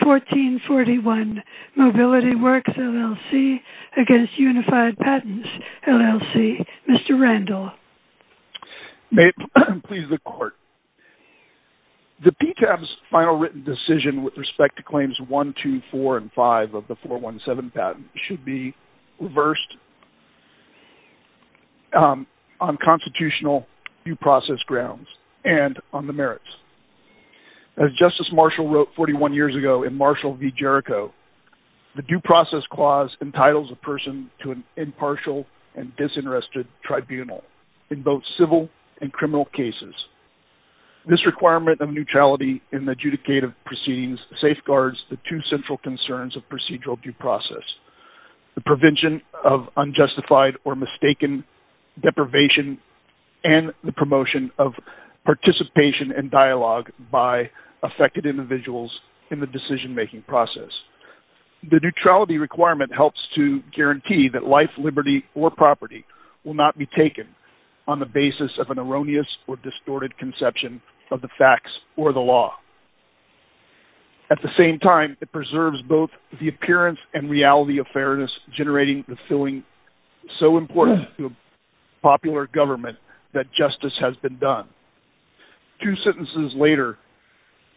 1441 Mobility Workx, LLC v. Unified Patents, LLC As Justice Marshall wrote 41 years ago in Marshall v. Jericho, the Due Process Clause entitles a person to an impartial and disinterested tribunal in both civil and criminal cases. This requirement of neutrality in the adjudicative proceedings safeguards the two central concerns of procedural due process, the prevention of unjustified or mistaken deprivation and the promotion of participation and dialogue by affected individuals in the decision-making process. The neutrality requirement helps to guarantee that life, liberty, or property will not be taken on the basis of an erroneous or distorted conception of the facts or the law. At the same time, it preserves both the appearance and reality of fairness, generating the feeling so important to a popular government that justice has been done. Two sentences later,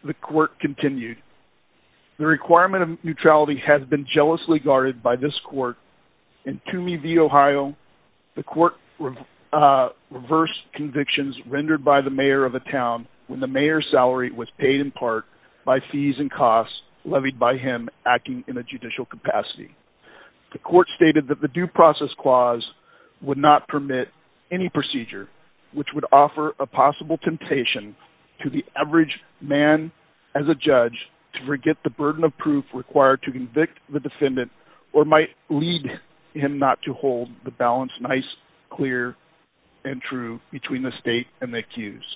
the court continued, the requirement of neutrality has been jealously guarded by this court. In Toomey v. Ohio, the court reversed convictions rendered by the mayor of a town when the mayor's salary was paid in part by fees and costs levied by him acting in a judicial capacity. The court stated that the due process clause would not permit any procedure which would offer a possible temptation to the average man as a judge to forget the burden of proof required to convict the defendant or might lead him not to hold the balance nice, clear, and true between the state and the accused.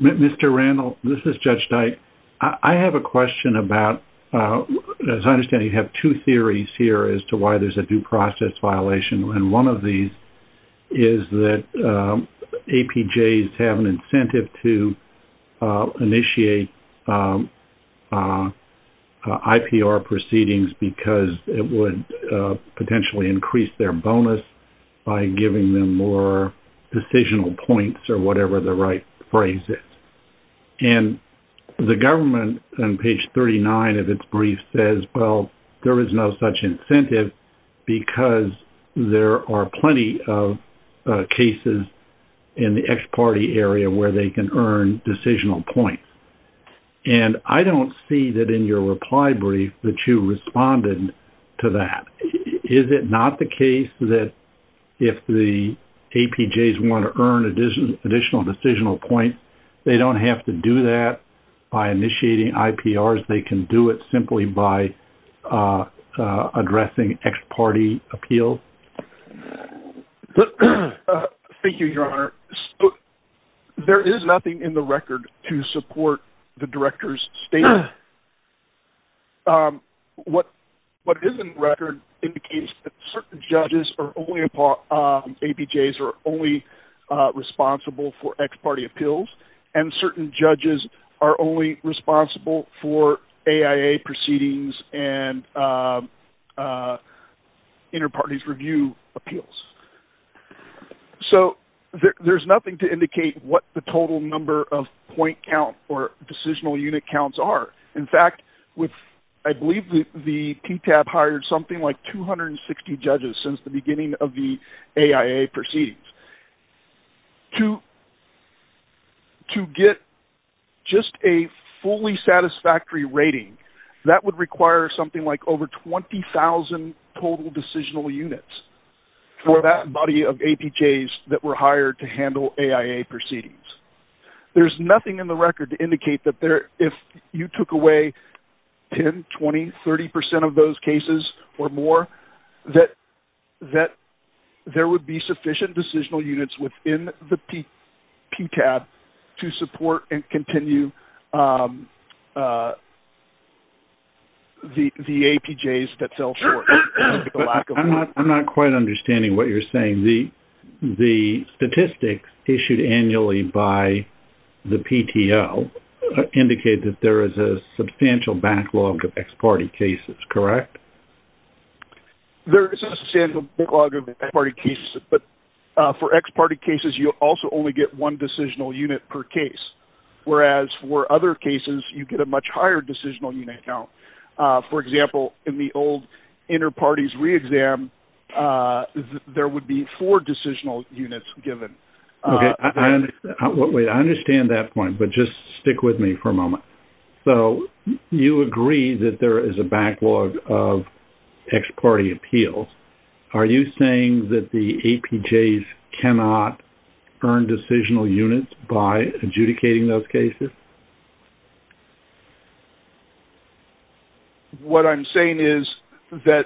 Mr. Randall, this is Judge Dyke. I have a question about, as I understand, you have two theories here as to why there's a due process violation. One of these is that APJs have an incentive to initiate IPR proceedings because it would potentially increase their bonus by giving them more decisional points or whatever the right phrase is. And the government on page 39 of its brief says, well, there is no such incentive because there are plenty of cases in the ex parte area where they can earn decisional points. And I don't see that in your reply brief that you responded to that. Is it not the case that if the APJs want to earn additional decisional points, they don't have to do that by initiating IPRs? They can do it simply by addressing ex parte appeals? Thank you, Your Honor. There is nothing in the record to support the director's statement. What is in the record indicates that certain judges or APJs are only responsible for ex parte appeals and certain judges are only responsible for AIA proceedings and inter parties review appeals. So there's nothing to indicate what the total number of point count or decisional unit counts are. In fact, I believe the TTAB hired something like 260 judges since the beginning of the AIA proceedings. To get just a fully satisfactory rating, that would require something like over 20,000 total decisional units for that body of APJs that were hired to handle AIA proceedings. There's nothing in the record to indicate that if you took away 10, 20, 30 percent of those cases or more, that there would be sufficient decisional units within the TTAB to support and continue the APJs that fell short. I'm not quite understanding what you're saying. The statistics issued annually by the PTO indicate that there is a substantial backlog of ex parte cases, correct? There is a substantial backlog of ex parte cases, but for ex parte cases, you also only get one decisional unit per case, whereas for other cases, you get a much higher decisional unit count. For example, in the old inter-parties re-exam, there would be four decisional units given. Okay. Wait. I understand that point, but just stick with me for a moment. You agree that there is a backlog of ex parte appeals. Are you saying that the APJs cannot earn decisional units by adjudicating those cases? What I'm saying is that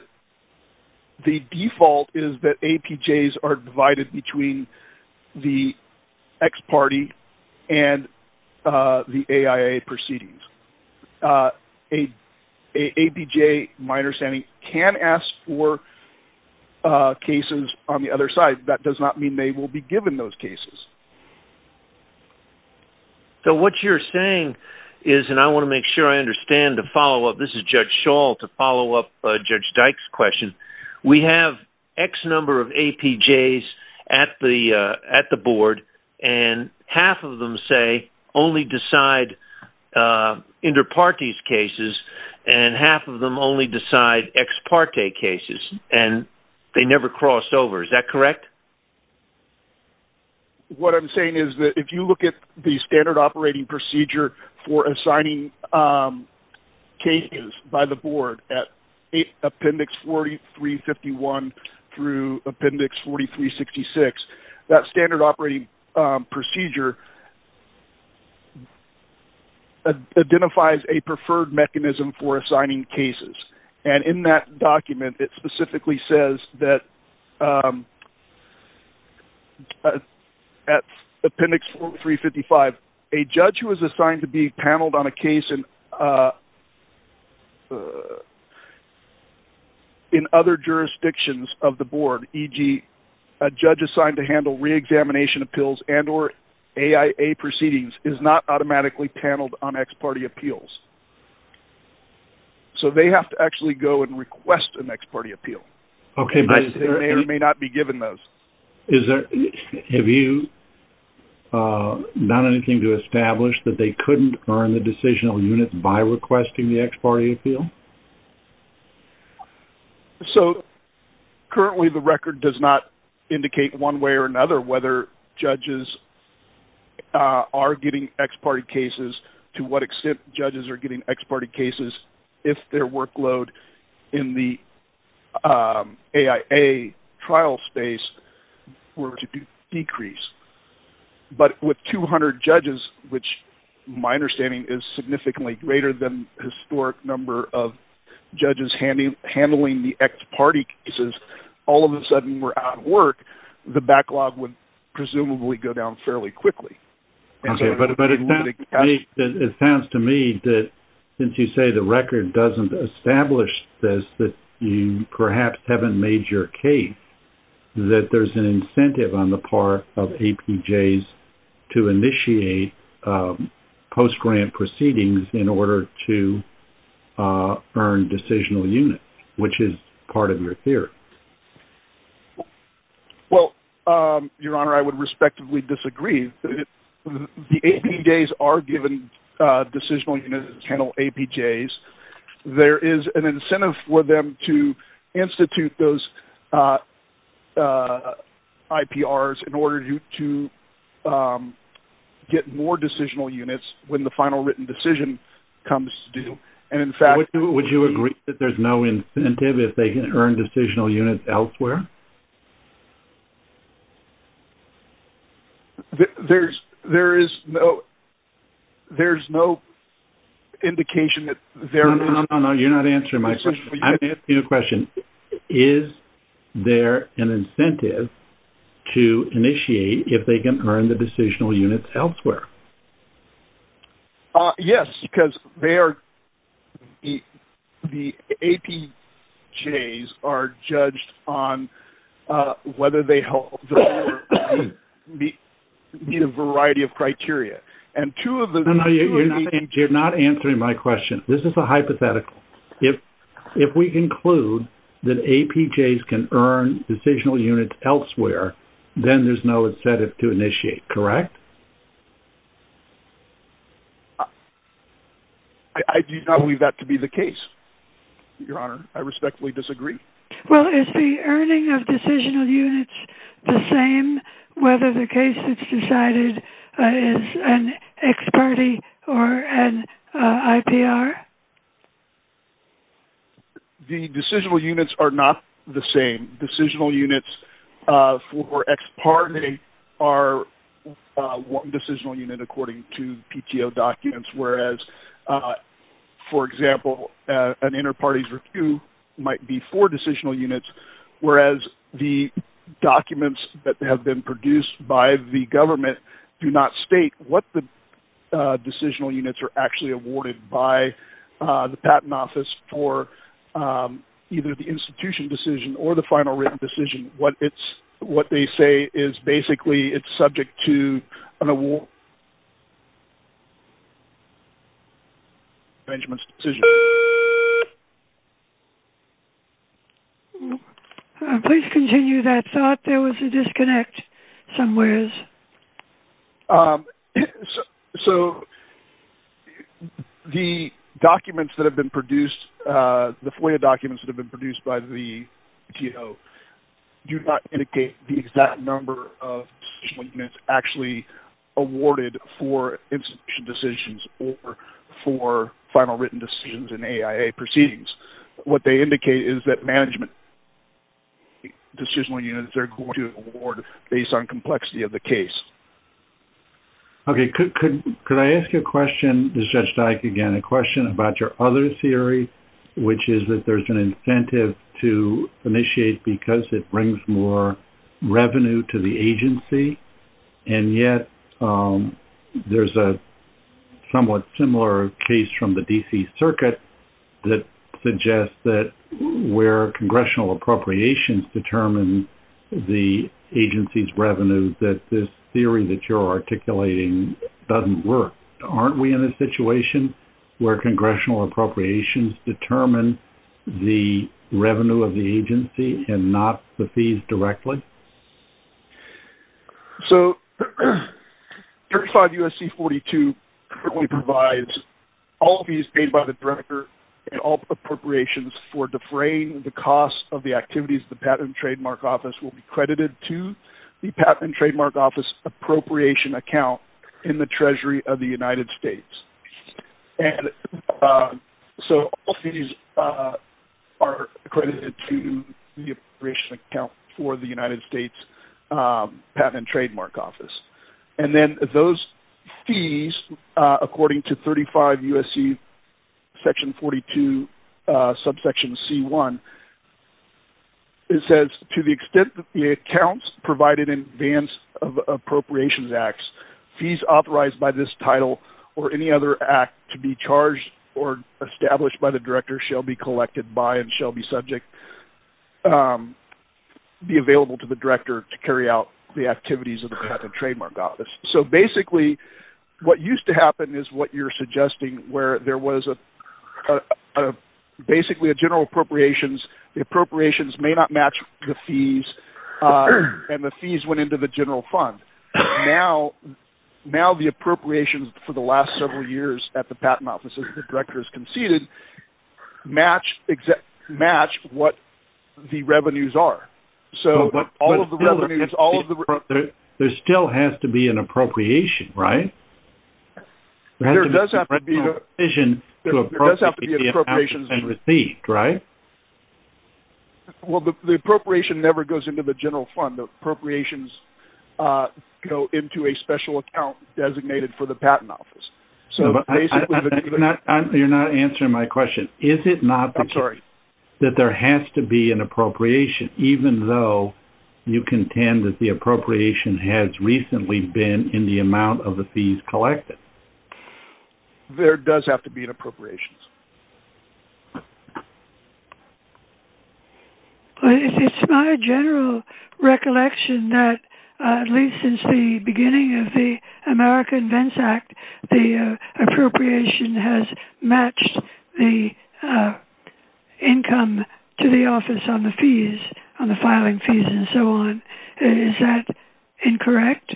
the default is that APJs are divided between the ex parte and the AIA proceedings. A APJ, my understanding, can ask for cases on the other side. That does not mean they will be given those cases. So, what you're saying is, and I want to make sure I understand the follow-up, this is Judge Schall to follow up Judge Dyke's question. We have X number of APJs at the board, and half of them say only decide inter-parties cases, and half of them only decide ex parte cases, and they never cross over. Is that correct? Correct. What I'm saying is that if you look at the standard operating procedure for assigning cases by the board at Appendix 4351 through Appendix 4366, that standard operating procedure identifies a preferred mechanism for assigning cases, and in that document, it specifically says that at Appendix 4355, a judge who is assigned to be paneled on a case in other jurisdictions of the board, e.g., a judge assigned to handle re-examination appeals and or AIA proceedings is not automatically paneled on ex parte appeals. So, they have to actually go and request an ex parte appeal. Okay, but... They may or may not be given those. Is there... Have you done anything to establish that they couldn't earn the decisional unit by requesting the ex parte appeal? So, currently the record does not indicate one way or another whether judges are getting ex parte cases, to what extent judges are getting ex parte cases, if their workload in the AIA trial space were to decrease. But with 200 judges, which my understanding is significantly greater than historic number of judges handling the ex parte cases, all of a sudden we're out of work, the backlog would presumably go down fairly quickly. Okay, but it sounds to me that since you say the record doesn't establish this, that you perhaps haven't made your case that there's an incentive on the part of APJs to initiate post-grant proceedings in order to earn decisional units, which is part of your theory. Well, Your Honor, I would respectively disagree. The APJs are given decisional units to handle APJs. There is an incentive for them to institute those IPRs in order to get more decisional units when the final written decision comes due, and in fact... Decisional units elsewhere? There is no indication that there... No, no, no, no, you're not answering my question. I'm asking you a question. Is there an incentive to initiate if they can earn the decisional units elsewhere? Yes, because the APJs are judged on whether they meet a variety of criteria, and two of them... No, no, you're not answering my question. This is a hypothetical. If we conclude that APJs can earn decisional units elsewhere, then there's no incentive to initiate, correct? I do not believe that to be the case, Your Honor. I respectfully disagree. Well, is the earning of decisional units the same whether the case is decided as an ex parte or an IPR? The decisional units are not the same. Decisional units for ex parte are one decisional unit according to PTO documents, whereas, for example, an inter parties review might be four decisional units, whereas the documents that have been produced by the government do not state what the decisional units are actually awarded by the patent office for either the institution decision or the final written decision. What they say is basically it's subject to an award... Please continue that thought. There was a disconnect somewhere. So the documents that have been produced, the FOIA documents that have been produced by the PTO do not indicate the exact number of decisional units actually awarded for institution decisions or for final written decisions in AIA proceedings. What they indicate is that management decisional units are going to award based on complexity of the case. Okay. Could I ask you a question, Judge Dyke, again, a question about your other theory, which is that there's an incentive to initiate because it brings more revenue to the agency, and yet there's a somewhat similar case from the D.C. that this theory that you're articulating doesn't work. Aren't we in a situation where congressional appropriations determine the revenue of the agency and not the fees directly? So 35 U.S.C. 42 provides all fees paid by the director and all appropriations for defraying the costs of the activities the Patent and Trademark Office will be credited to the Patent and Trademark Office appropriation account in the Treasury of the United States. And so all fees are credited to the appropriation account for the United States Patent and Trademark Office. And then those fees, according to 35 U.S.C. section 42, subsection C1, it says to the extent that the accounts provided in advance of appropriations acts, fees authorized by this title or any other act to be charged or established by the director shall be collected by and shall be subject, be available to the director to carry out the activities of the Patent and Trademark Office. So basically what used to happen is what you're suggesting where there was basically a general appropriations, the appropriations may not match the fees, and the fees went into the general fund. Now the appropriations for the last several years at the Patent Office that the director has matched what the revenues are. So all of the revenues, all of the revenues. There still has to be an appropriation, right? There does have to be an appropriations. There has to be a provision to appropriate the accounts that have been received, right? Well, the appropriation never goes into the general fund. The appropriations go into a special account designated for the Patent Office. So basically. You're not answering my question. Is it not. I'm sorry. That there has to be an appropriation, even though you contend that the appropriation has recently been in the amount of the fees collected. There does have to be an appropriations. It's my general recollection that at least since the beginning of the America Invents Act, the income to the office on the fees, on the filing fees and so on. Is that incorrect?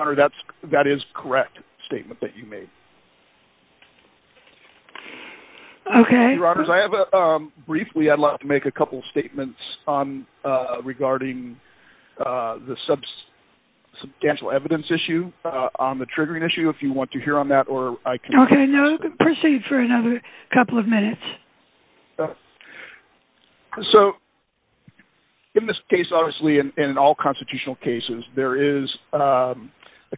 That is correct statement that you made. Okay. I have a briefly, I'd like to make a couple of statements on regarding the substantial evidence issue on the triggering issue. If you want to hear on that or I can proceed for another couple of minutes. So in this case, obviously, and in all constitutional cases, there is a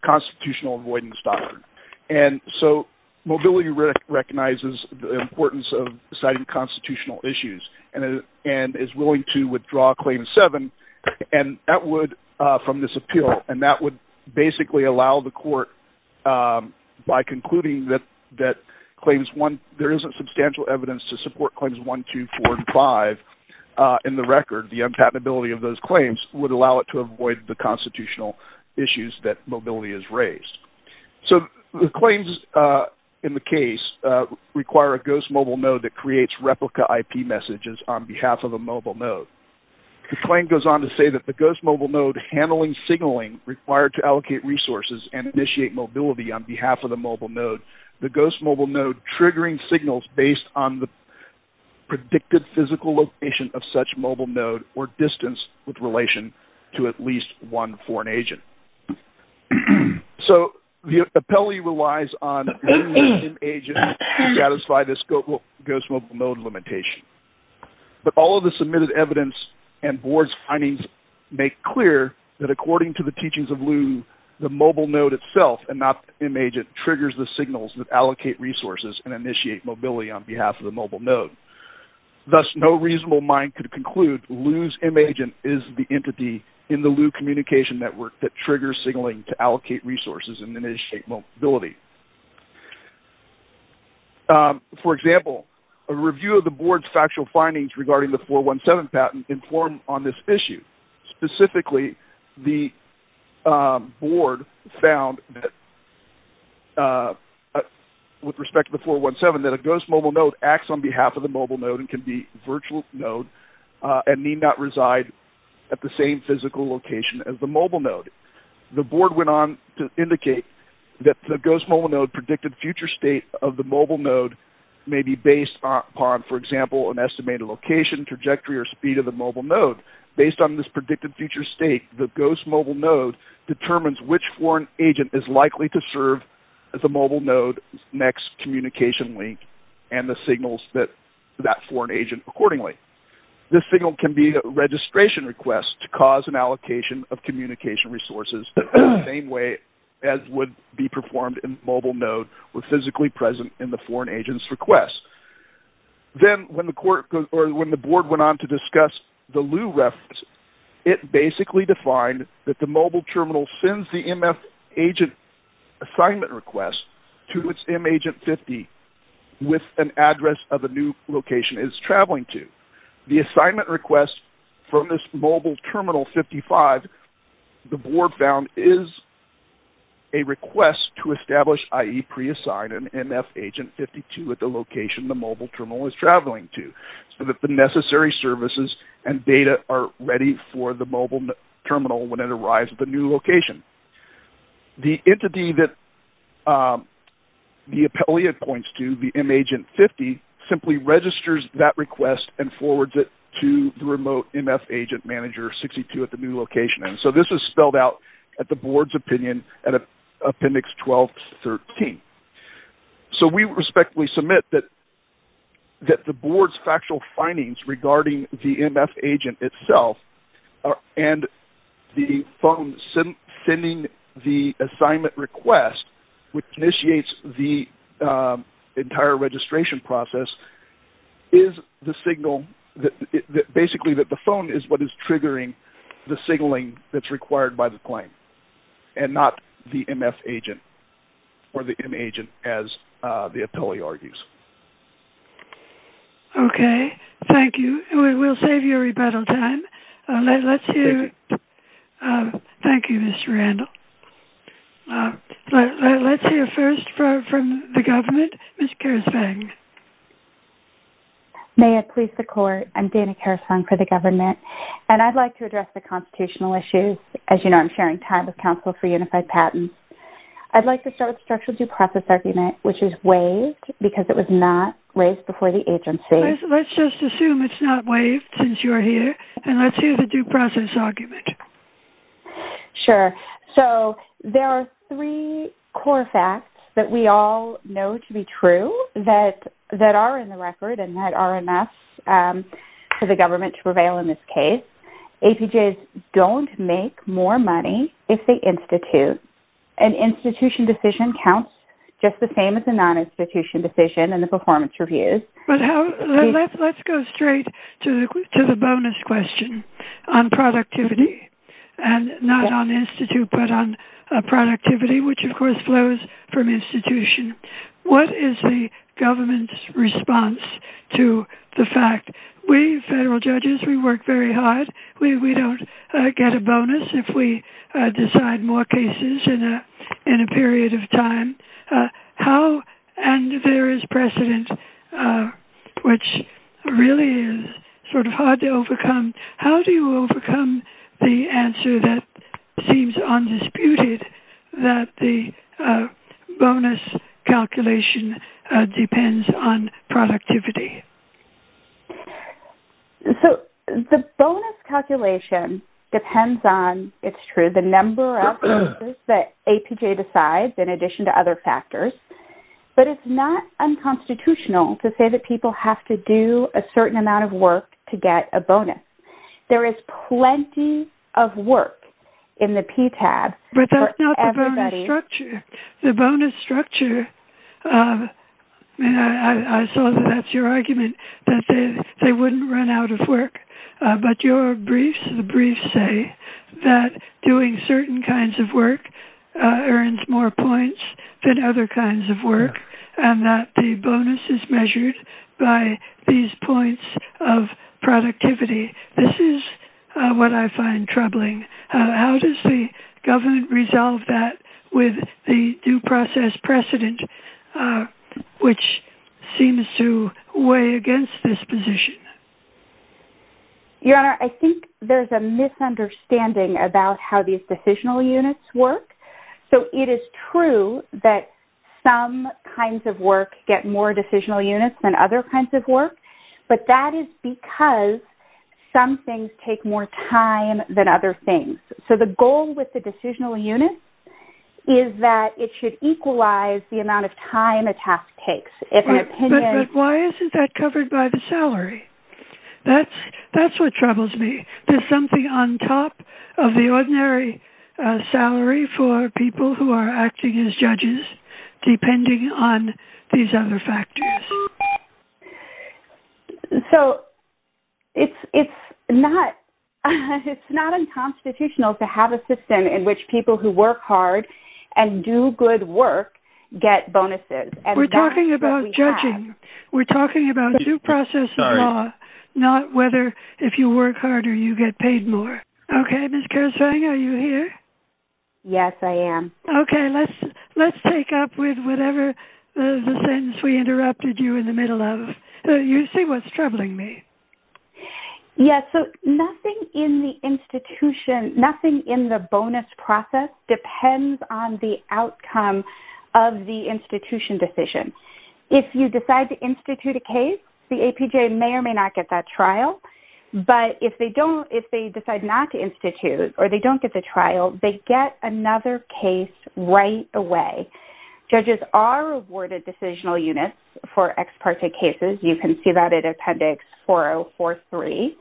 constitutional avoidance doctrine. And so mobility recognizes the importance of deciding constitutional issues and is willing to withdraw claim seven. And that would, from this appeal, and that would basically allow the court by concluding that claims one, there isn't substantial evidence to support claims one, two, four and five in the record. The unpatentability of those claims would allow it to avoid the constitutional issues that mobility has raised. So the claims in the case require a ghost mobile node that creates replica IP messages on behalf of a mobile node. The claim goes on to say that the ghost mobile node handling signaling required to allocate resources and initiate mobility on behalf of the mobile node, the ghost mobile node triggering signals based on the predicted physical location of such mobile node or distance with relation to at least one foreign agent. So the appellee relies on an agent to satisfy this ghost mobile node limitation. But all of the submitted evidence and board's findings make clear that according to the teachings of Lew, the mobile node itself and not the agent triggers the signals that allocate resources and initiate mobility on behalf of the mobile node. Thus, no reasonable mind could conclude Lew's agent is the entity in the Lew communication network that triggers signaling to allocate resources and initiate mobility. For example, a review of the board's factual findings regarding the 417 patent informed on this issue. Specifically, the board found that with respect to the 417 that a ghost mobile node acts on behalf of the mobile node and can be virtual node and need not reside at the same physical location as the mobile node. The board went on to indicate that the ghost mobile node predicted future state of the mobile node may be based upon, for example, an estimated location, trajectory or speed of the mobile node. Based on this predicted future state, the ghost mobile node determines which foreign agent is likely to serve the mobile node next communication link and the signals that that foreign agent accordingly. This signal can be a registration request to cause an allocation of communication resources the same way as would be performed in mobile node with physically present in the foreign agent's request. Then, when the board went on to discuss the Lew reference, it basically defined that the mobile terminal sends the MF agent assignment request to its M agent 50 with an address of the new location it's traveling to. The assignment request from this mobile terminal 55, the board found is a request to establish i.e. pre-assign an MF agent 52 at the location the mobile terminal is traveling to so that the necessary services and data are ready for the mobile terminal when it arrives at the new location. The entity that the appellate points to, the M agent 50, simply registers that request and forwards it to the remote MF agent manager 62 at the new location. This is spelled out at the board's opinion at appendix 12-13. We respectfully submit that the board's factual findings regarding the MF agent itself and the phone sending the assignment request which initiates the entire registration process is the signal, basically that the phone is what is triggering the signaling that's required by the claim and not the MF agent or the M agent as the appellate argues. Okay, thank you. We will save you rebuttal time. Let's hear, thank you, Mr. Randall. Let's hear first from the government, Ms. Karasvang. May it please the court, I'm Dana Karasvang for the government and I'd like to address the constitutional issues. As you know, I'm sharing time with Council for Unified Patents. I'd like to start with the structural due process argument which is waived because it was not raised before the agency. Let's just assume it's not waived since you're here and let's hear the due process argument. Sure, so there are three core facts that we all know to be true that are in the record and that are enough for the government to prevail in this case. APJs don't make more money if they institute. An institution decision counts just the same as a non-institution decision in the performance reviews. Let's go straight to the bonus question on productivity and not on institute but on productivity which of course flows from institution. What is the government's response to the fact we federal judges, we work very hard. We don't get a bonus if we decide more cases in a period of time. How and if there is precedent which really is sort of hard to overcome, how do you overcome the answer that seems undisputed that the bonus calculation depends on productivity? The bonus calculation depends on, it's true, the number of cases that APJ decides in addition to other factors but it's not unconstitutional to say that people have to do a certain amount of work to get a bonus. There is plenty of work in the PTAB for everybody. But that's not the bonus structure. The bonus structure, I saw that that's your argument that they wouldn't run out of work but your briefs, the briefs say that doing certain kinds of work earns more points than other kinds of work and that the bonus is measured by these points of productivity. This is what I find troubling. How does the government resolve that with the due process precedent which seems to weigh against this position? Your Honor, I think there's a misunderstanding about how these decisional units work. So it is true that some kinds of work get more decisional units than other kinds of work but that is because some things take more time than other things. So the goal with the decisional unit is that it should equalize the amount of time a task takes. But why isn't that covered by the salary? That's what troubles me. There's something on top of the ordinary salary for people who are acting as judges depending on these other factors. So it's not unconstitutional to have a system in which people who work hard and do good work get bonuses. We're talking about judging. We're talking about due process law, not whether if you work hard or you get paid more. Okay. Ms. Kersvang, are you here? Yes, I am. Okay. Let's take up with whatever the sentence we interrupted you in the middle of. You see what's troubling me. Yes. So nothing in the institution, nothing in the bonus process depends on the outcome of the institution decision. If you decide to institute a case, the APJ may or may not get that trial. But if they decide not to institute or they don't get the trial, they get another case right away. Judges are awarded decisional units for ex parte cases. You can see that in Appendix 4043.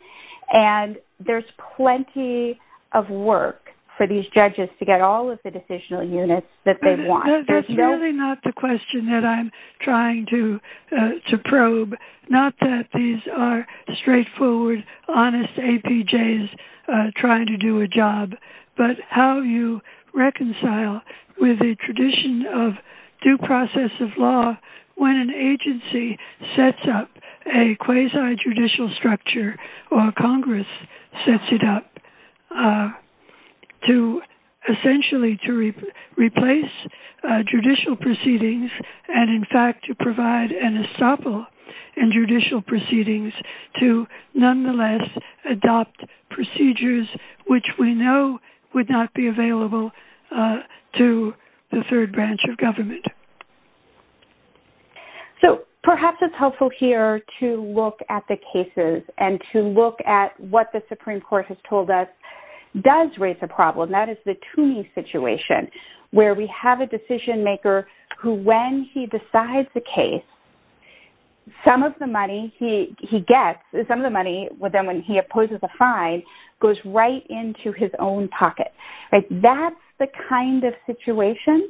And there's plenty of work for these judges to get all of the decisional units that they want. That's really not the question that I'm trying to probe. Not that these are straightforward, honest APJs trying to do a job, but how you reconcile with the tradition of due process of law when an agency sets up a quasi-judicial structure or Congress sets it up to essentially to replace judicial proceedings and, in fact, to provide an estoppel in judicial proceedings to nonetheless adopt procedures which we know would not be available to the third branch of government. So perhaps it's helpful here to look at the cases and to look at what the Supreme Court has told us does raise a problem. That is the Toomey situation where we have a decision maker who, when he decides the case, some of the money he gets, some of the money when he opposes a fine, goes right into his own pocket. That's the kind of situation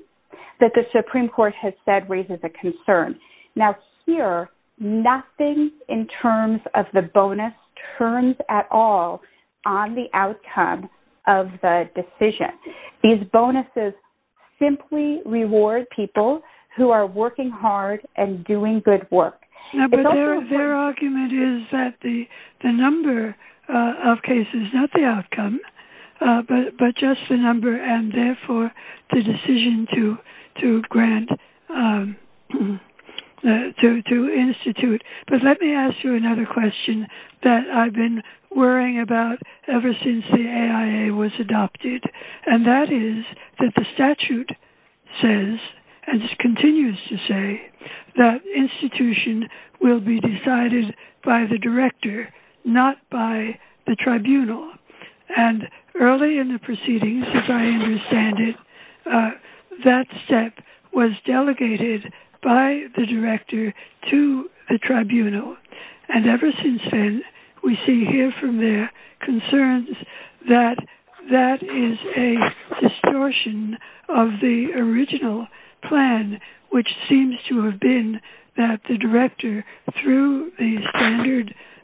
that the Supreme Court has said raises a concern. Now, here, nothing in terms of the bonus turns at all on the outcome of the decision. These bonuses simply reward people who are working hard and doing good work. Their argument is that the number of cases, not the outcome, but just the number and, therefore, the decision to grant, to institute. But let me ask you another question that I've been worrying about ever since the AIA was decided by the director, not by the tribunal. And early in the proceedings, as I understand it, that step was delegated by the director to the tribunal. And ever since then, we see here from their concerns that that is a distortion of the standard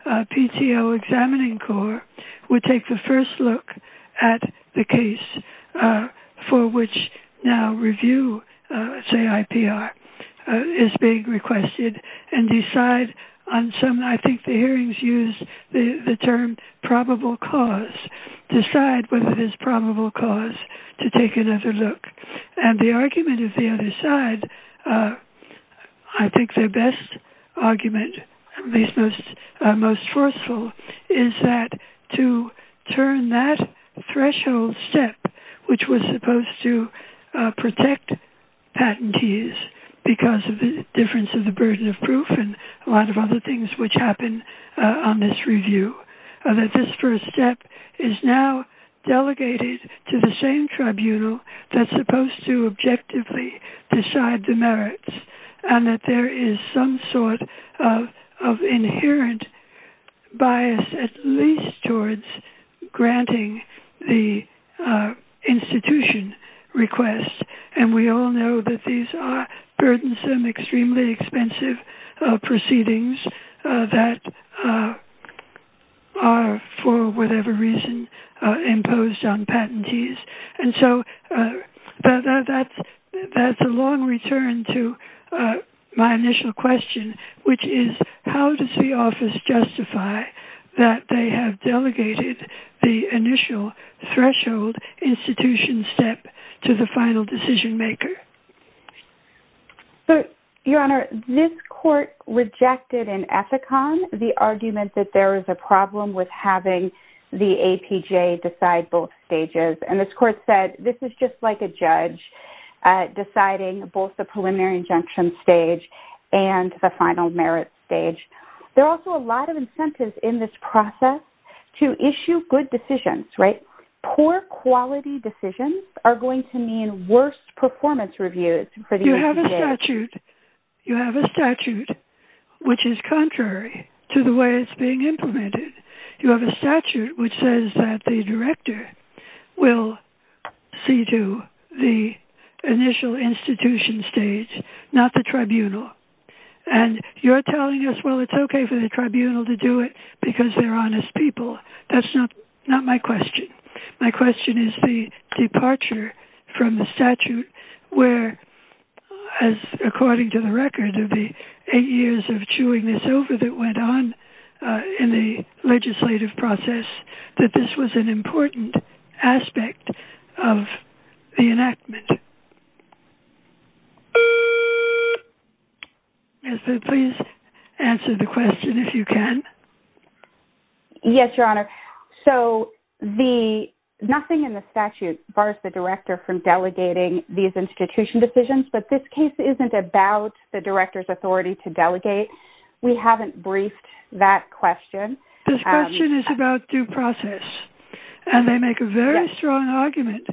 PTO examining core. We take the first look at the case for which now review, say IPR, is being requested and decide on some, I think the hearings use the term probable cause, decide whether it is probable cause to take another look. And the argument of the other side, I think their best argument, at least most forceful, is that to turn that threshold step, which was supposed to protect patentees because of the difference of the burden of proof and a lot of other things which happen on this step is now delegated to the same tribunal that's supposed to objectively decide the merits. And that there is some sort of inherent bias, at least towards granting the institution request. And we all know that these are burdensome, extremely expensive proceedings that are, for whatever reason, imposed on patentees. And so that's a long return to my initial question, which is how does the office justify that they have delegated the initial threshold institution step to the final decision maker? So, Your Honor, this court rejected in Ethicon the argument that there is a problem with having the APJ decide both stages. And this court said this is just like a judge deciding both the preliminary injunction stage and the final merit stage. There are also a lot of incentives in this process to issue good decisions, right? Poor quality decisions are going to mean worse performance reviews. You have a statute which is contrary to the way it's being implemented. You have a statute which says that the director will see to the initial institution stage, not the tribunal. And you're telling us, well, it's okay for the tribunal to do it because they're honest people. That's not my question. My question is the departure from the statute where, as according to the record of the eight years of chewing this over that went on in the legislative process, that this was an important aspect of the enactment. Yes, but please answer the question if you can. Yes, Your Honor. So, nothing in the statute bars the director from delegating these institution decisions, but this case isn't about the director's authority to delegate. We haven't briefed that question. This question is about due process. And they make a very strong argument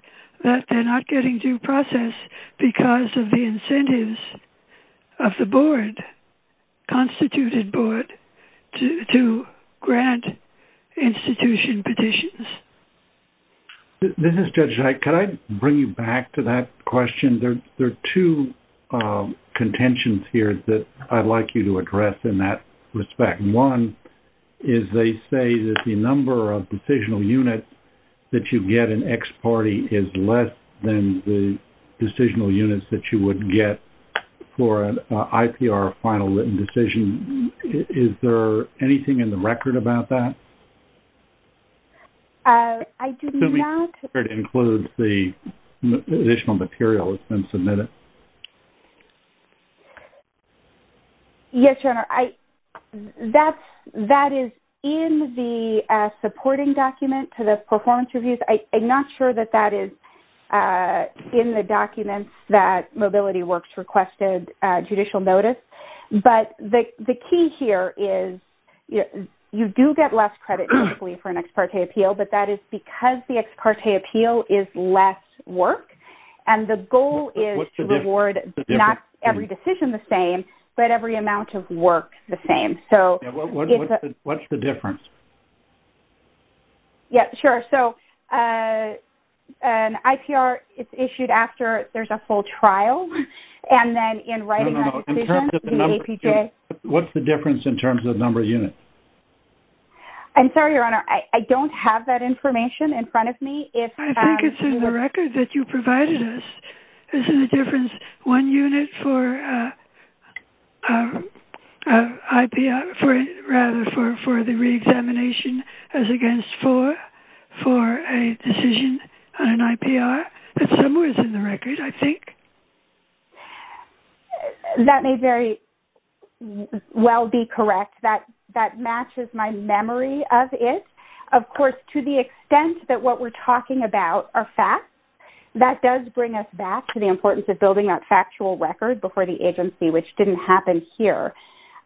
that they're not getting due process because of the incentives of the board, constituted board, to grant institution petitions. This is Judge Dyke. Could I bring you back to that question? There are two contentions here that I'd like you to address in that respect. One is they say that the number of decisional units that you get in X party is less than the decisional units that you would get for an IPR final written decision. Is there anything in the record about that? I do not... It includes the additional material that's been submitted. Yes, Your Honor. That is in the supporting document to the performance reviews. I'm not sure that that is in the documents that Mobility Works requested judicial notice. But the key here is you do get less credit for an X party appeal, but that is because the X party appeal is less work. And the goal is to reward not every decision the same, but every amount of work the same. What's the difference? Yes, sure. So an IPR, it's issued after there's a full trial. And then in writing that decision, the APJ... What's the difference in terms of number of units? I'm sorry, Your Honor. I don't have that information in front of me. I think it's in the record that you provided us. Isn't the difference one unit for the reexamination as against four for a decision on an IPR? It's somewhere in the record, I think. That may very well be correct. That matches my memory of it. Of course, to the extent that what we're talking about are facts, that does bring us back to the importance of building that factual record before the agency, which didn't happen here.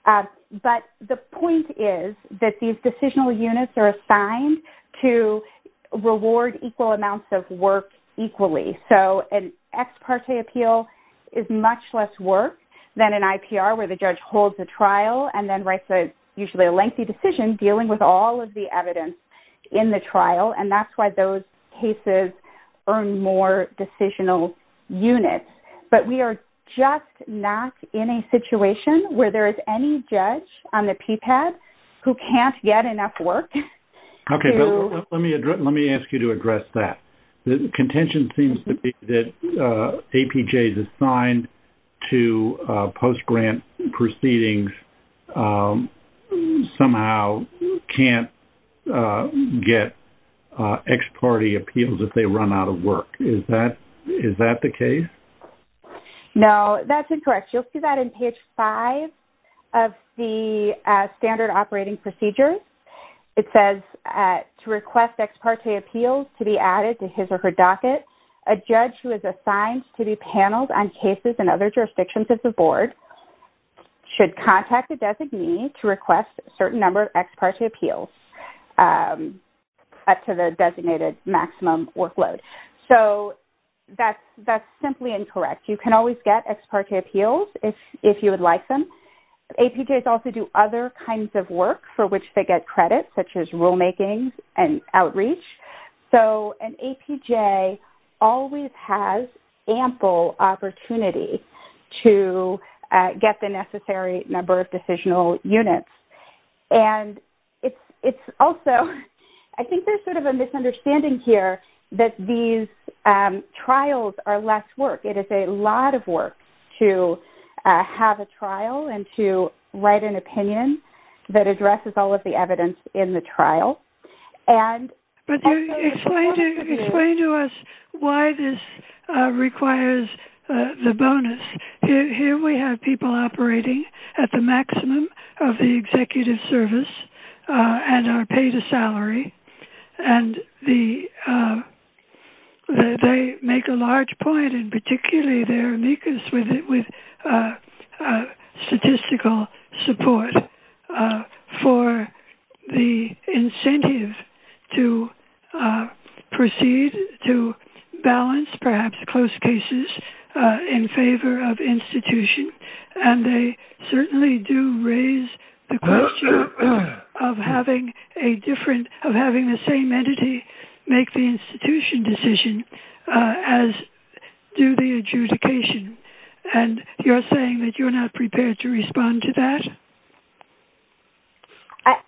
But the point is that these decisional units are assigned to reward equal amounts of work equally. So an X party appeal is much less work than an IPR where the judge holds a trial and then it's usually a lengthy decision dealing with all of the evidence in the trial. And that's why those cases earn more decisional units. But we are just not in a situation where there is any judge on the PPAD who can't get enough work to... Okay. Let me ask you to address that. The contention seems to be that APJs assigned to post-grant proceedings somehow can't get X party appeals if they run out of work. Is that the case? No, that's incorrect. You'll see that in page five of the standard operating procedures. It says, to request X party appeals to be added to his or her docket, a judge who is assigned to be paneled on cases in other jurisdictions of the board should contact a designee to request a certain number of X party appeals up to the designated maximum workload. So that's simply incorrect. You can always get X party appeals if you would like them. APJs also do other kinds of work for which they get credit, such as rulemaking and outreach. So an APJ always has ample opportunity to get the necessary number of decisional units. And it's also... I think there's sort of a misunderstanding here that these trials are less work. It is a lot of work to have a trial and to write an opinion that addresses all of the evidence in the trial. But explain to us why this requires the bonus. Here we have people operating at the maximum of the executive service and are paid a salary. And they make a large point in particularly their amicus with statistical support for the incentive to proceed, to balance perhaps close cases in favor of institution. And they certainly do raise the question of having a different... of having the same entity make the institution decision as do the adjudication. And you're saying that you're not prepared to respond to that?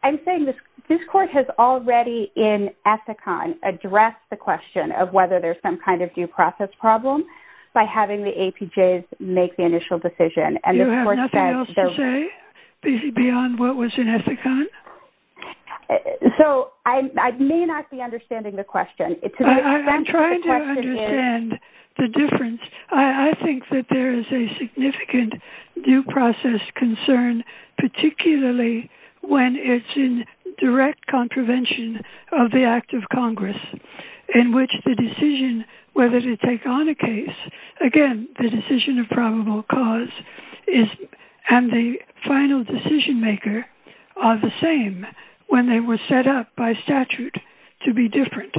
I'm saying this court has already in Ethicon addressed the question of whether there's some kind of due process problem by having the APJs make the initial decision. You have nothing else to say beyond what was in Ethicon? So I may not be understanding the question. I'm trying to understand the difference. I think that there is a significant due process concern, particularly when it's in direct contravention of the Act of Congress, in which the decision whether to take on a case, again, the decision of probable cause is... and the final decision maker are the same when they were set up by statute to be different.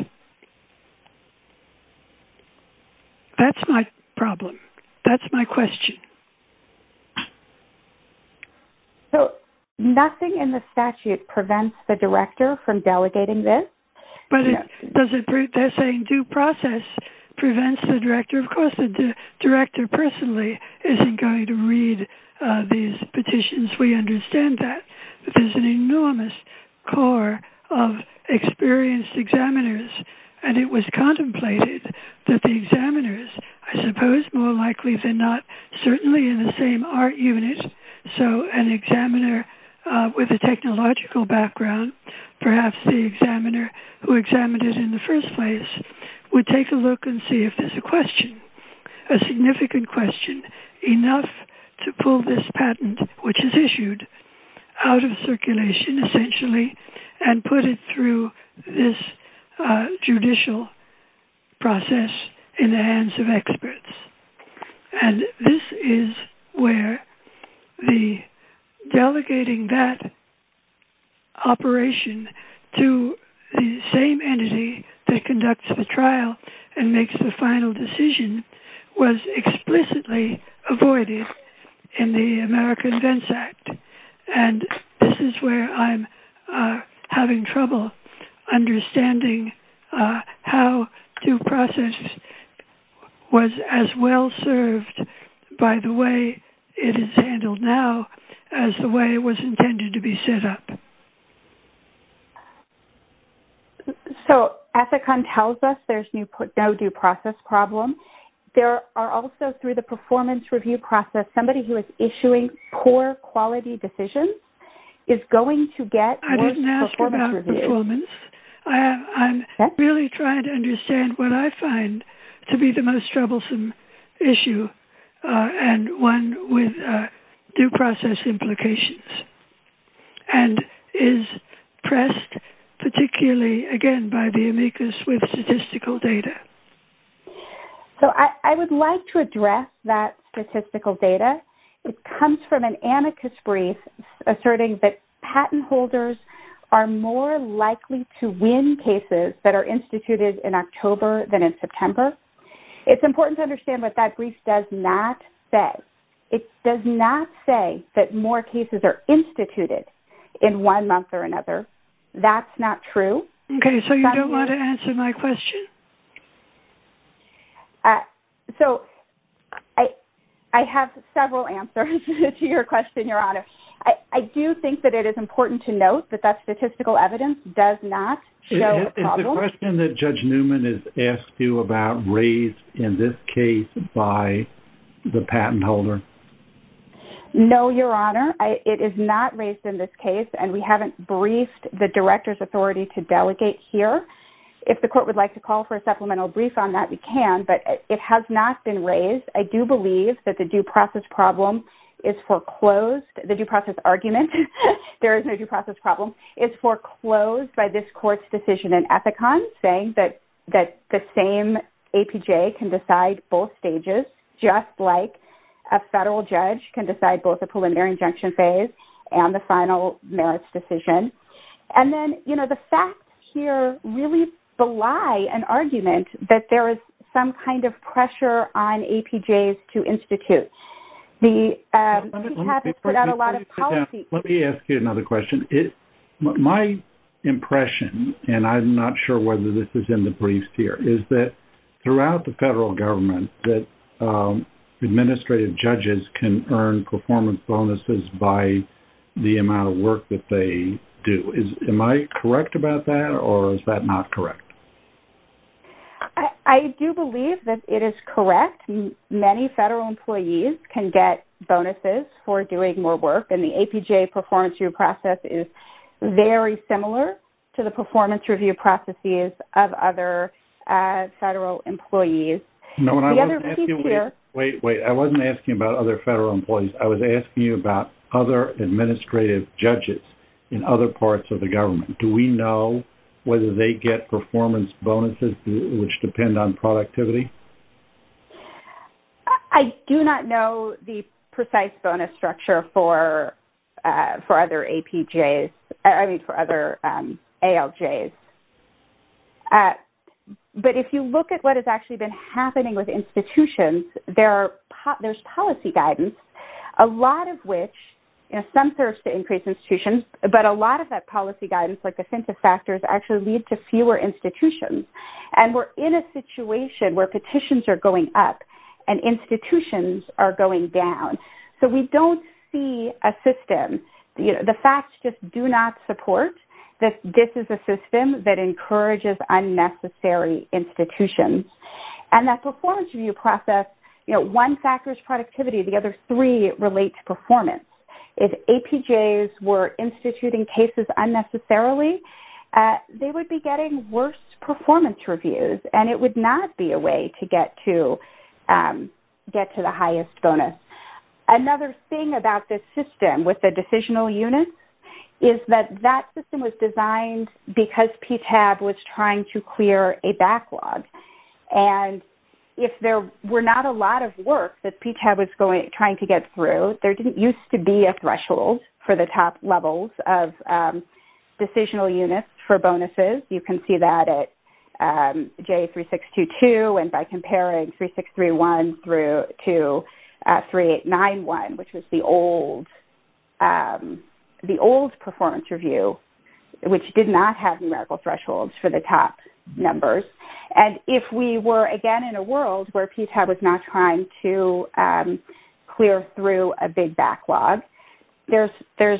That's my problem. That's my question. So nothing in the statute prevents the director from delegating this? They're saying due process prevents the director. Of course, the director personally isn't going to read these petitions. We understand that. But there's an enormous core of experienced examiners, and it was contemplated that the examiners, I suppose more likely than not, certainly in the same art unit, so an examiner with a technological background, perhaps the examiner who examined it in the first place, would take a look and see if there's a question, a significant question, enough to pull this patent, which is issued, out of circulation, essentially, and put it through this judicial process in the hands of experts. And this is where the delegating that operation to the same entity that conducts the trial and makes the final decision was explicitly avoided in the American Vents Act. And this is where I'm having trouble understanding how due process was as well served by the way it is handled now as the way it was intended to be set up. So Ethicon tells us there's no due process problem. There are also, through the performance review process, somebody who is issuing poor quality decisions is going to get a performance review. I didn't ask about performance. I'm really trying to understand what I find to be the most troublesome issue and one with due process implications, and is pressed particularly, again, by the amicus with statistical data. So I would like to address that statistical data. It comes from an amicus brief asserting that patent holders are more likely to win cases that are instituted in October than in September. It's important to understand what that brief does not say. It does not say that more cases are instituted in one month or another. That's not true. Okay, so you don't want to answer my question? So I have several answers to your question, Your Honor. I do think that it is important to note that that statistical evidence does not show a problem. Is the question that Judge Newman has asked you about raised in this case by the patent holder? No, Your Honor. It is not raised in this case, and we haven't briefed the director's authority to delegate here. If the court would like to call for a supplemental brief on that, we can, but it has not been raised. I do believe that the due process problem is foreclosed. The due process argument, there is no due process problem, is foreclosed by this court's decision in Ethicon, saying that the same APJ can decide both stages, just like a federal judge can decide both the preliminary injunction phase and the final merits decision. And then, you know, the facts here really belie an argument that there is some kind of pressure on APJs to institute. Let me ask you another question. My impression, and I'm not sure whether this is in the briefs here, is that throughout the federal government that administrative judges can earn performance bonuses by the amount of work that they do. Am I correct about that, or is that not correct? I do believe that it is correct. Many federal employees can get bonuses for doing more work, and the APJ performance review process is very similar to the performance review processes of other federal employees. Wait, wait. I wasn't asking about other federal employees. I was asking you about other administrative judges in other parts of the government. Do we know whether they get performance bonuses, which depend on productivity? I do not know the precise bonus structure for other APJs, I mean for other ALJs. But if you look at what has actually been happening with institutions, there's policy guidance, a lot of which, you know, some serves to increase institutions, but a lot of that policy guidance, like offensive factors, actually lead to fewer institutions. And we're in a situation where petitions are going up and institutions are going down. So we don't see a system. The facts just do not support that this is a system that encourages unnecessary institutions. And that performance review process, you know, one factors productivity, the other three relate to performance. If APJs were instituting cases unnecessarily, they would be getting worse performance reviews, and it would not be a way to get to the highest bonus. Another thing about this system with the decisional units is that that system was designed because PTAB was trying to clear a backlog. And if there were not a lot of work that PTAB was trying to get through, there didn't used to be a threshold for the top levels of decisional units for bonuses. You can see that at J3622, and by comparing 3631 through to 3891, which was the old performance review, which did not have numerical thresholds for the top numbers. And if we were, again, in a world where PTAB was not trying to clear through a big backlog, there's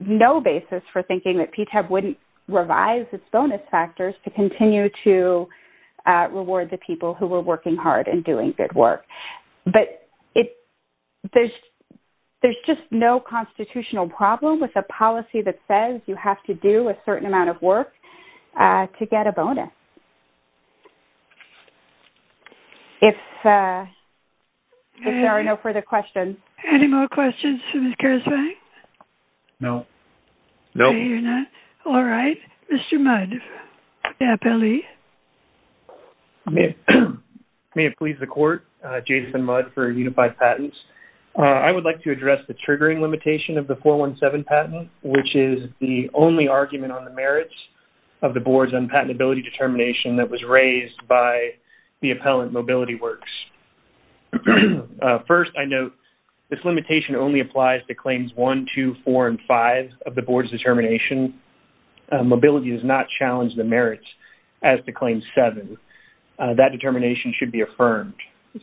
no basis for thinking that PTAB wouldn't revise its bonus factors to continue to reward the people who were working hard and doing good work. But there's just no constitutional problem with a policy that says you have to do a certain amount of work to get a bonus. If there are no further questions. Any more questions from Ms. Gershwin? No. No. Okay. All right. Mr. Mudd, the appellee. May it please the court, Jason Mudd for Unified Patents. I would like to address the triggering limitation of the 417 patent, which is the only argument on the merits of the board's unpatentability determination that was raised by the appellant, Mobility Works. First, I note this limitation only applies to claims 1, 2, 4, and 5 of the board's determination. Mobility does not challenge the merits as to claim 7. That determination should be affirmed.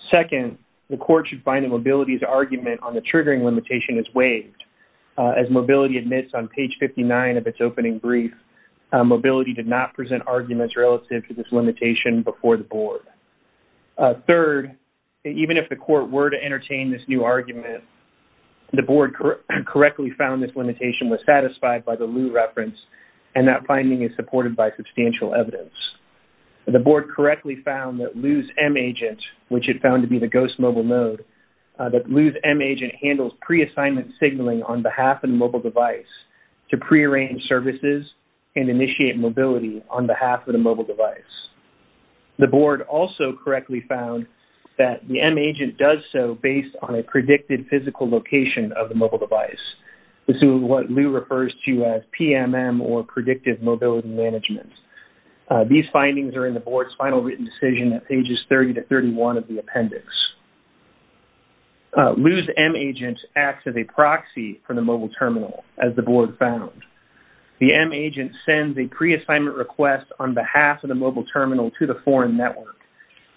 Second, the court should find that Mobility's argument on the triggering limitation is waived. As Mobility admits on page 59 of its opening brief, Mobility did not present arguments relative to this limitation before the board. Third, even if the court were to entertain this new argument, the board correctly found this limitation was satisfied by the Lu reference, and that finding is supported by substantial evidence. The board correctly found that Lu's M-Agent, which it found to be the ghost mobile mode, that Lu's M-Agent handles pre-assignment signaling on behalf of the mobile device to prearrange services and initiate mobility on behalf of the mobile device. The board also correctly found that the M-Agent does so based on a predicted physical location of the mobile device. This is what Lu refers to as PMM, or Predictive Mobility Management. These findings are in the board's final written decision at pages 30 to 31 of the appendix. Lu's M-Agent acts as a proxy for the mobile terminal, as the board found. The M-Agent sends a pre-assignment request on behalf of the mobile terminal to the foreign network,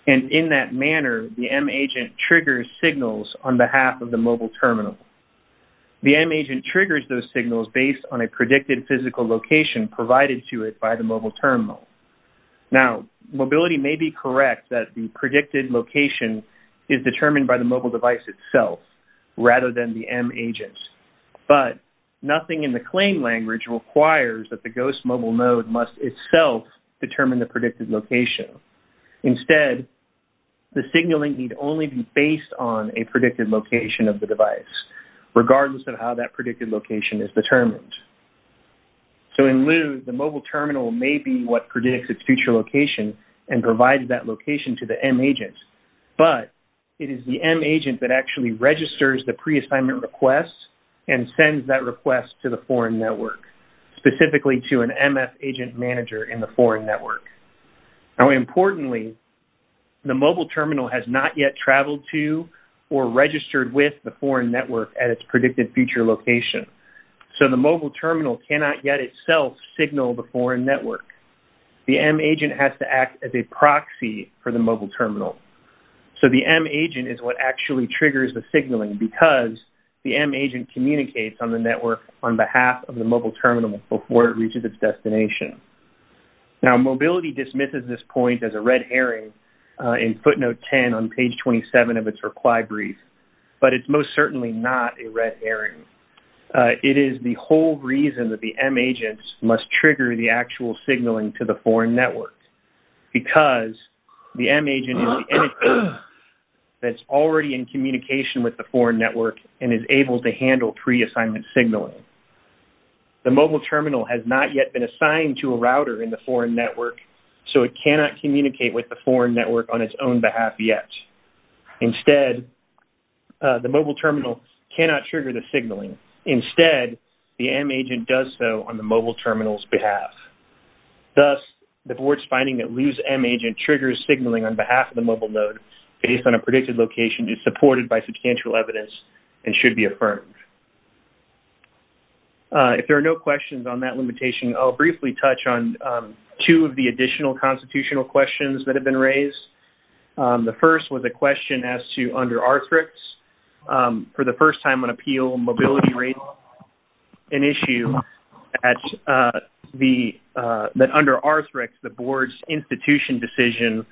and in that manner, the M-Agent triggers signals on behalf of the mobile terminal. The M-Agent triggers those signals based on a predicted physical location provided to it by the mobile terminal. Now, Mobility may be correct that the predicted location is determined by the mobile device itself rather than the M-Agent, but nothing in the claim language requires that the GHOST mobile node must itself determine the predicted location. Instead, the signaling need only be based on a predicted location of the device, regardless of how that predicted location is determined. So in Lu, the mobile terminal may be what predicts its future location and provides that location to the M-Agent, but it is the M-Agent that actually registers the pre-assignment request and sends that request to the foreign network, specifically to an MF-Agent manager in the foreign network. Now importantly, the mobile terminal has not yet traveled to or registered with the foreign network at its predicted future location, so the mobile terminal cannot yet itself signal the foreign network. The M-Agent has to act as a proxy for the mobile terminal. So the M-Agent is what actually triggers the signaling because the M-Agent communicates on the network on behalf of the mobile terminal before it reaches its destination. Now mobility dismisses this point as a red herring in footnote 10 on page 27 of its required brief, but it's most certainly not a red herring. It is the whole reason that the M-Agents must trigger the actual signaling to the foreign network because the M-Agent is the entity that's already in communication with the foreign network and is able to handle pre-assignment signaling. The mobile terminal has not yet been assigned to a router in the foreign network, so it cannot communicate with the foreign network on its own behalf yet. Instead, the mobile terminal cannot trigger the signaling. Instead, the M-Agent does so on the mobile terminal's behalf. Thus, the board's finding that lose M-Agent triggers signaling on behalf of the mobile node based on a predicted location is supported by substantial evidence and should be affirmed. If there are no questions on that limitation, I'll briefly touch on two of the additional constitutional questions that have been raised. The first was a question as to under ARTHREX. For the first time on appeal, mobility raises an issue that under ARTHREX, the board's institution decision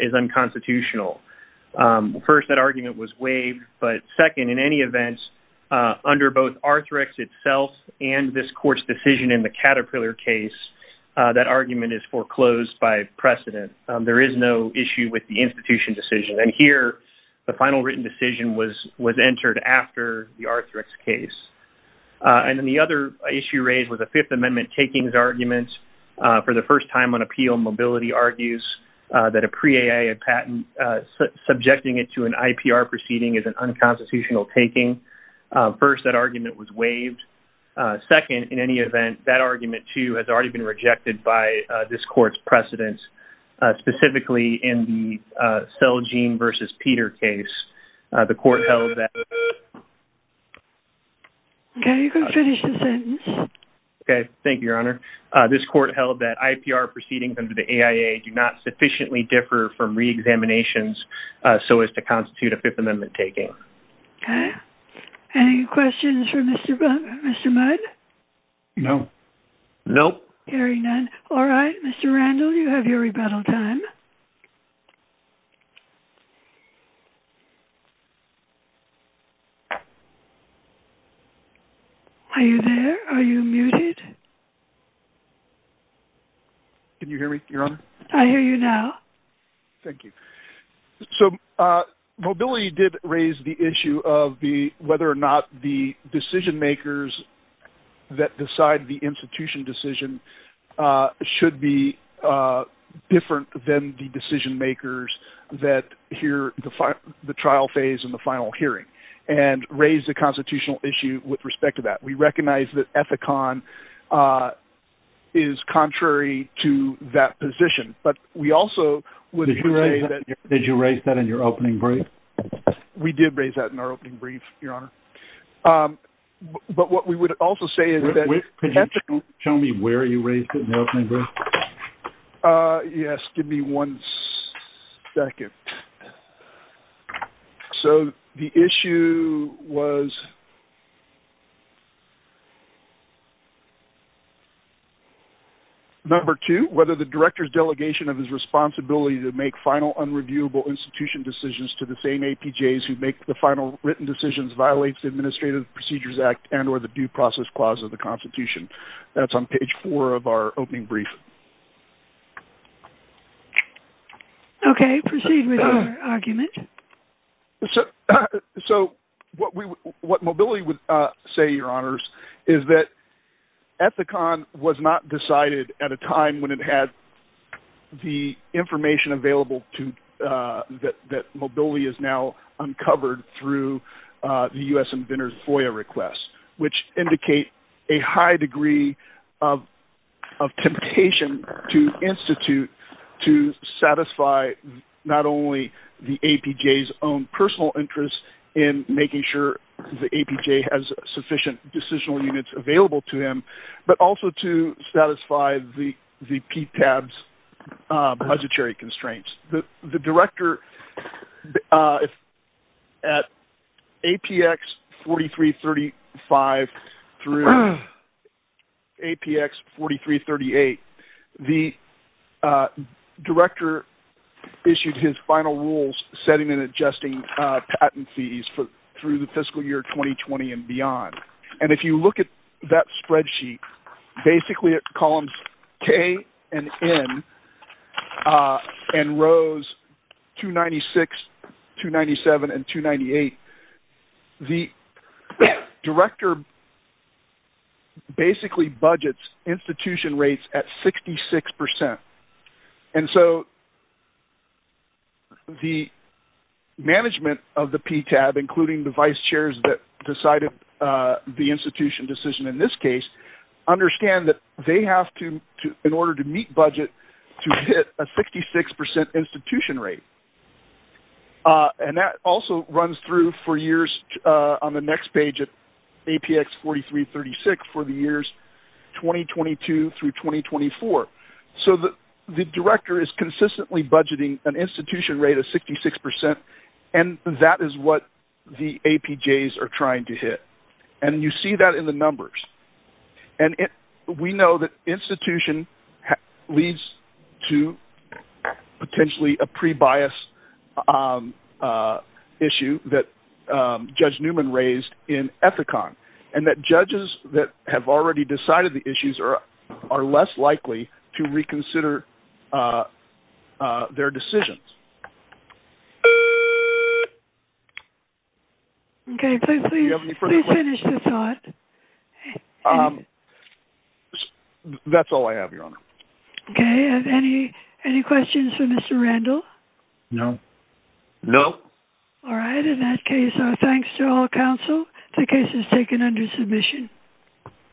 is unconstitutional. First, that argument was waived, but second, in any event, under both ARTHREX itself and this court's decision in the Caterpillar case, that argument is foreclosed by precedent. There is no issue with the institution decision. And here, the final written decision was entered after the ARTHREX case. And then the other issue raised was a Fifth Amendment takings argument. For the first time on appeal, mobility argues that a pre-AAA patent, subjecting it to an IPR proceeding is an unconstitutional taking. First, that argument was waived. Second, in any event, that argument, too, has already been rejected by this court's precedents, specifically in the Celgene v. Peter case. The court held that... Okay, you can finish the sentence. Okay, thank you, Your Honor. This court held that IPR proceedings under the AIA do not sufficiently differ from reexaminations so as to constitute a Fifth Amendment taking. Okay. Any questions for Mr. Mudd? No. Nope. Hearing none. All right, Mr. Randall, you have your rebuttal time. Are you there? Are you muted? Can you hear me, Your Honor? I hear you now. Thank you. So mobility did raise the issue of whether or not the decision makers that decide the institution decision should be different than the decision makers that hear the trial phase and the final hearing and raise the constitutional issue with respect to that. We recognize that Ethicon is contrary to that position, but we also would... Did you raise that in your opening brief? We did raise that in our opening brief, Your Honor. But what we would also say is that... Could you show me where you raised it in your opening brief? Yes, give me one second. So the issue was number two, whether the director's delegation of his responsibility to make final unreviewable institution decisions to the same APJs who make the final written decisions violates the Administrative Procedures Act and or the Due Process Clause of the Constitution. That's on page four of our opening brief. Okay, proceed with your argument. So what Mobility would say, Your Honors, is that Ethicon was not decided at a time when it had the information available that Mobility has now uncovered through the U.S. inventor's FOIA request, which indicate a high degree of temptation to institute to satisfy not only the APJ's own personal interest in making sure the APJ has sufficient decisional units available to him, but also to satisfy the PTAB's budgetary constraints. The director at APX 4335 through APX 4338, the director issued his final rules setting and adjusting patent fees through the fiscal year 2020 and beyond. And if you look at that spreadsheet, basically at columns K and N and rows 296, 297, and 298, the director basically budgets institution rates at 66%. And so the management of the PTAB, including the vice chairs that decided the institution decision in this case, understand that they have to, in order to meet budget, to hit a 66% institution rate. And that also runs through for years on the next page at APX 4336 for the years 2022 through 2024. So the director is consistently budgeting an institution rate of 66%, and that is what the APJ's are trying to hit. And you see that in the numbers. And we know that institution leads to potentially a pre-bias issue that Judge Newman raised in Ethicon. And that judges that have already decided the issues are less likely to reconsider their decisions. Okay, please finish the thought. That's all I have, Your Honor. Okay, any questions for Mr. Randall? No. No. All right, in that case, our thanks to all counsel. The case is taken under submission.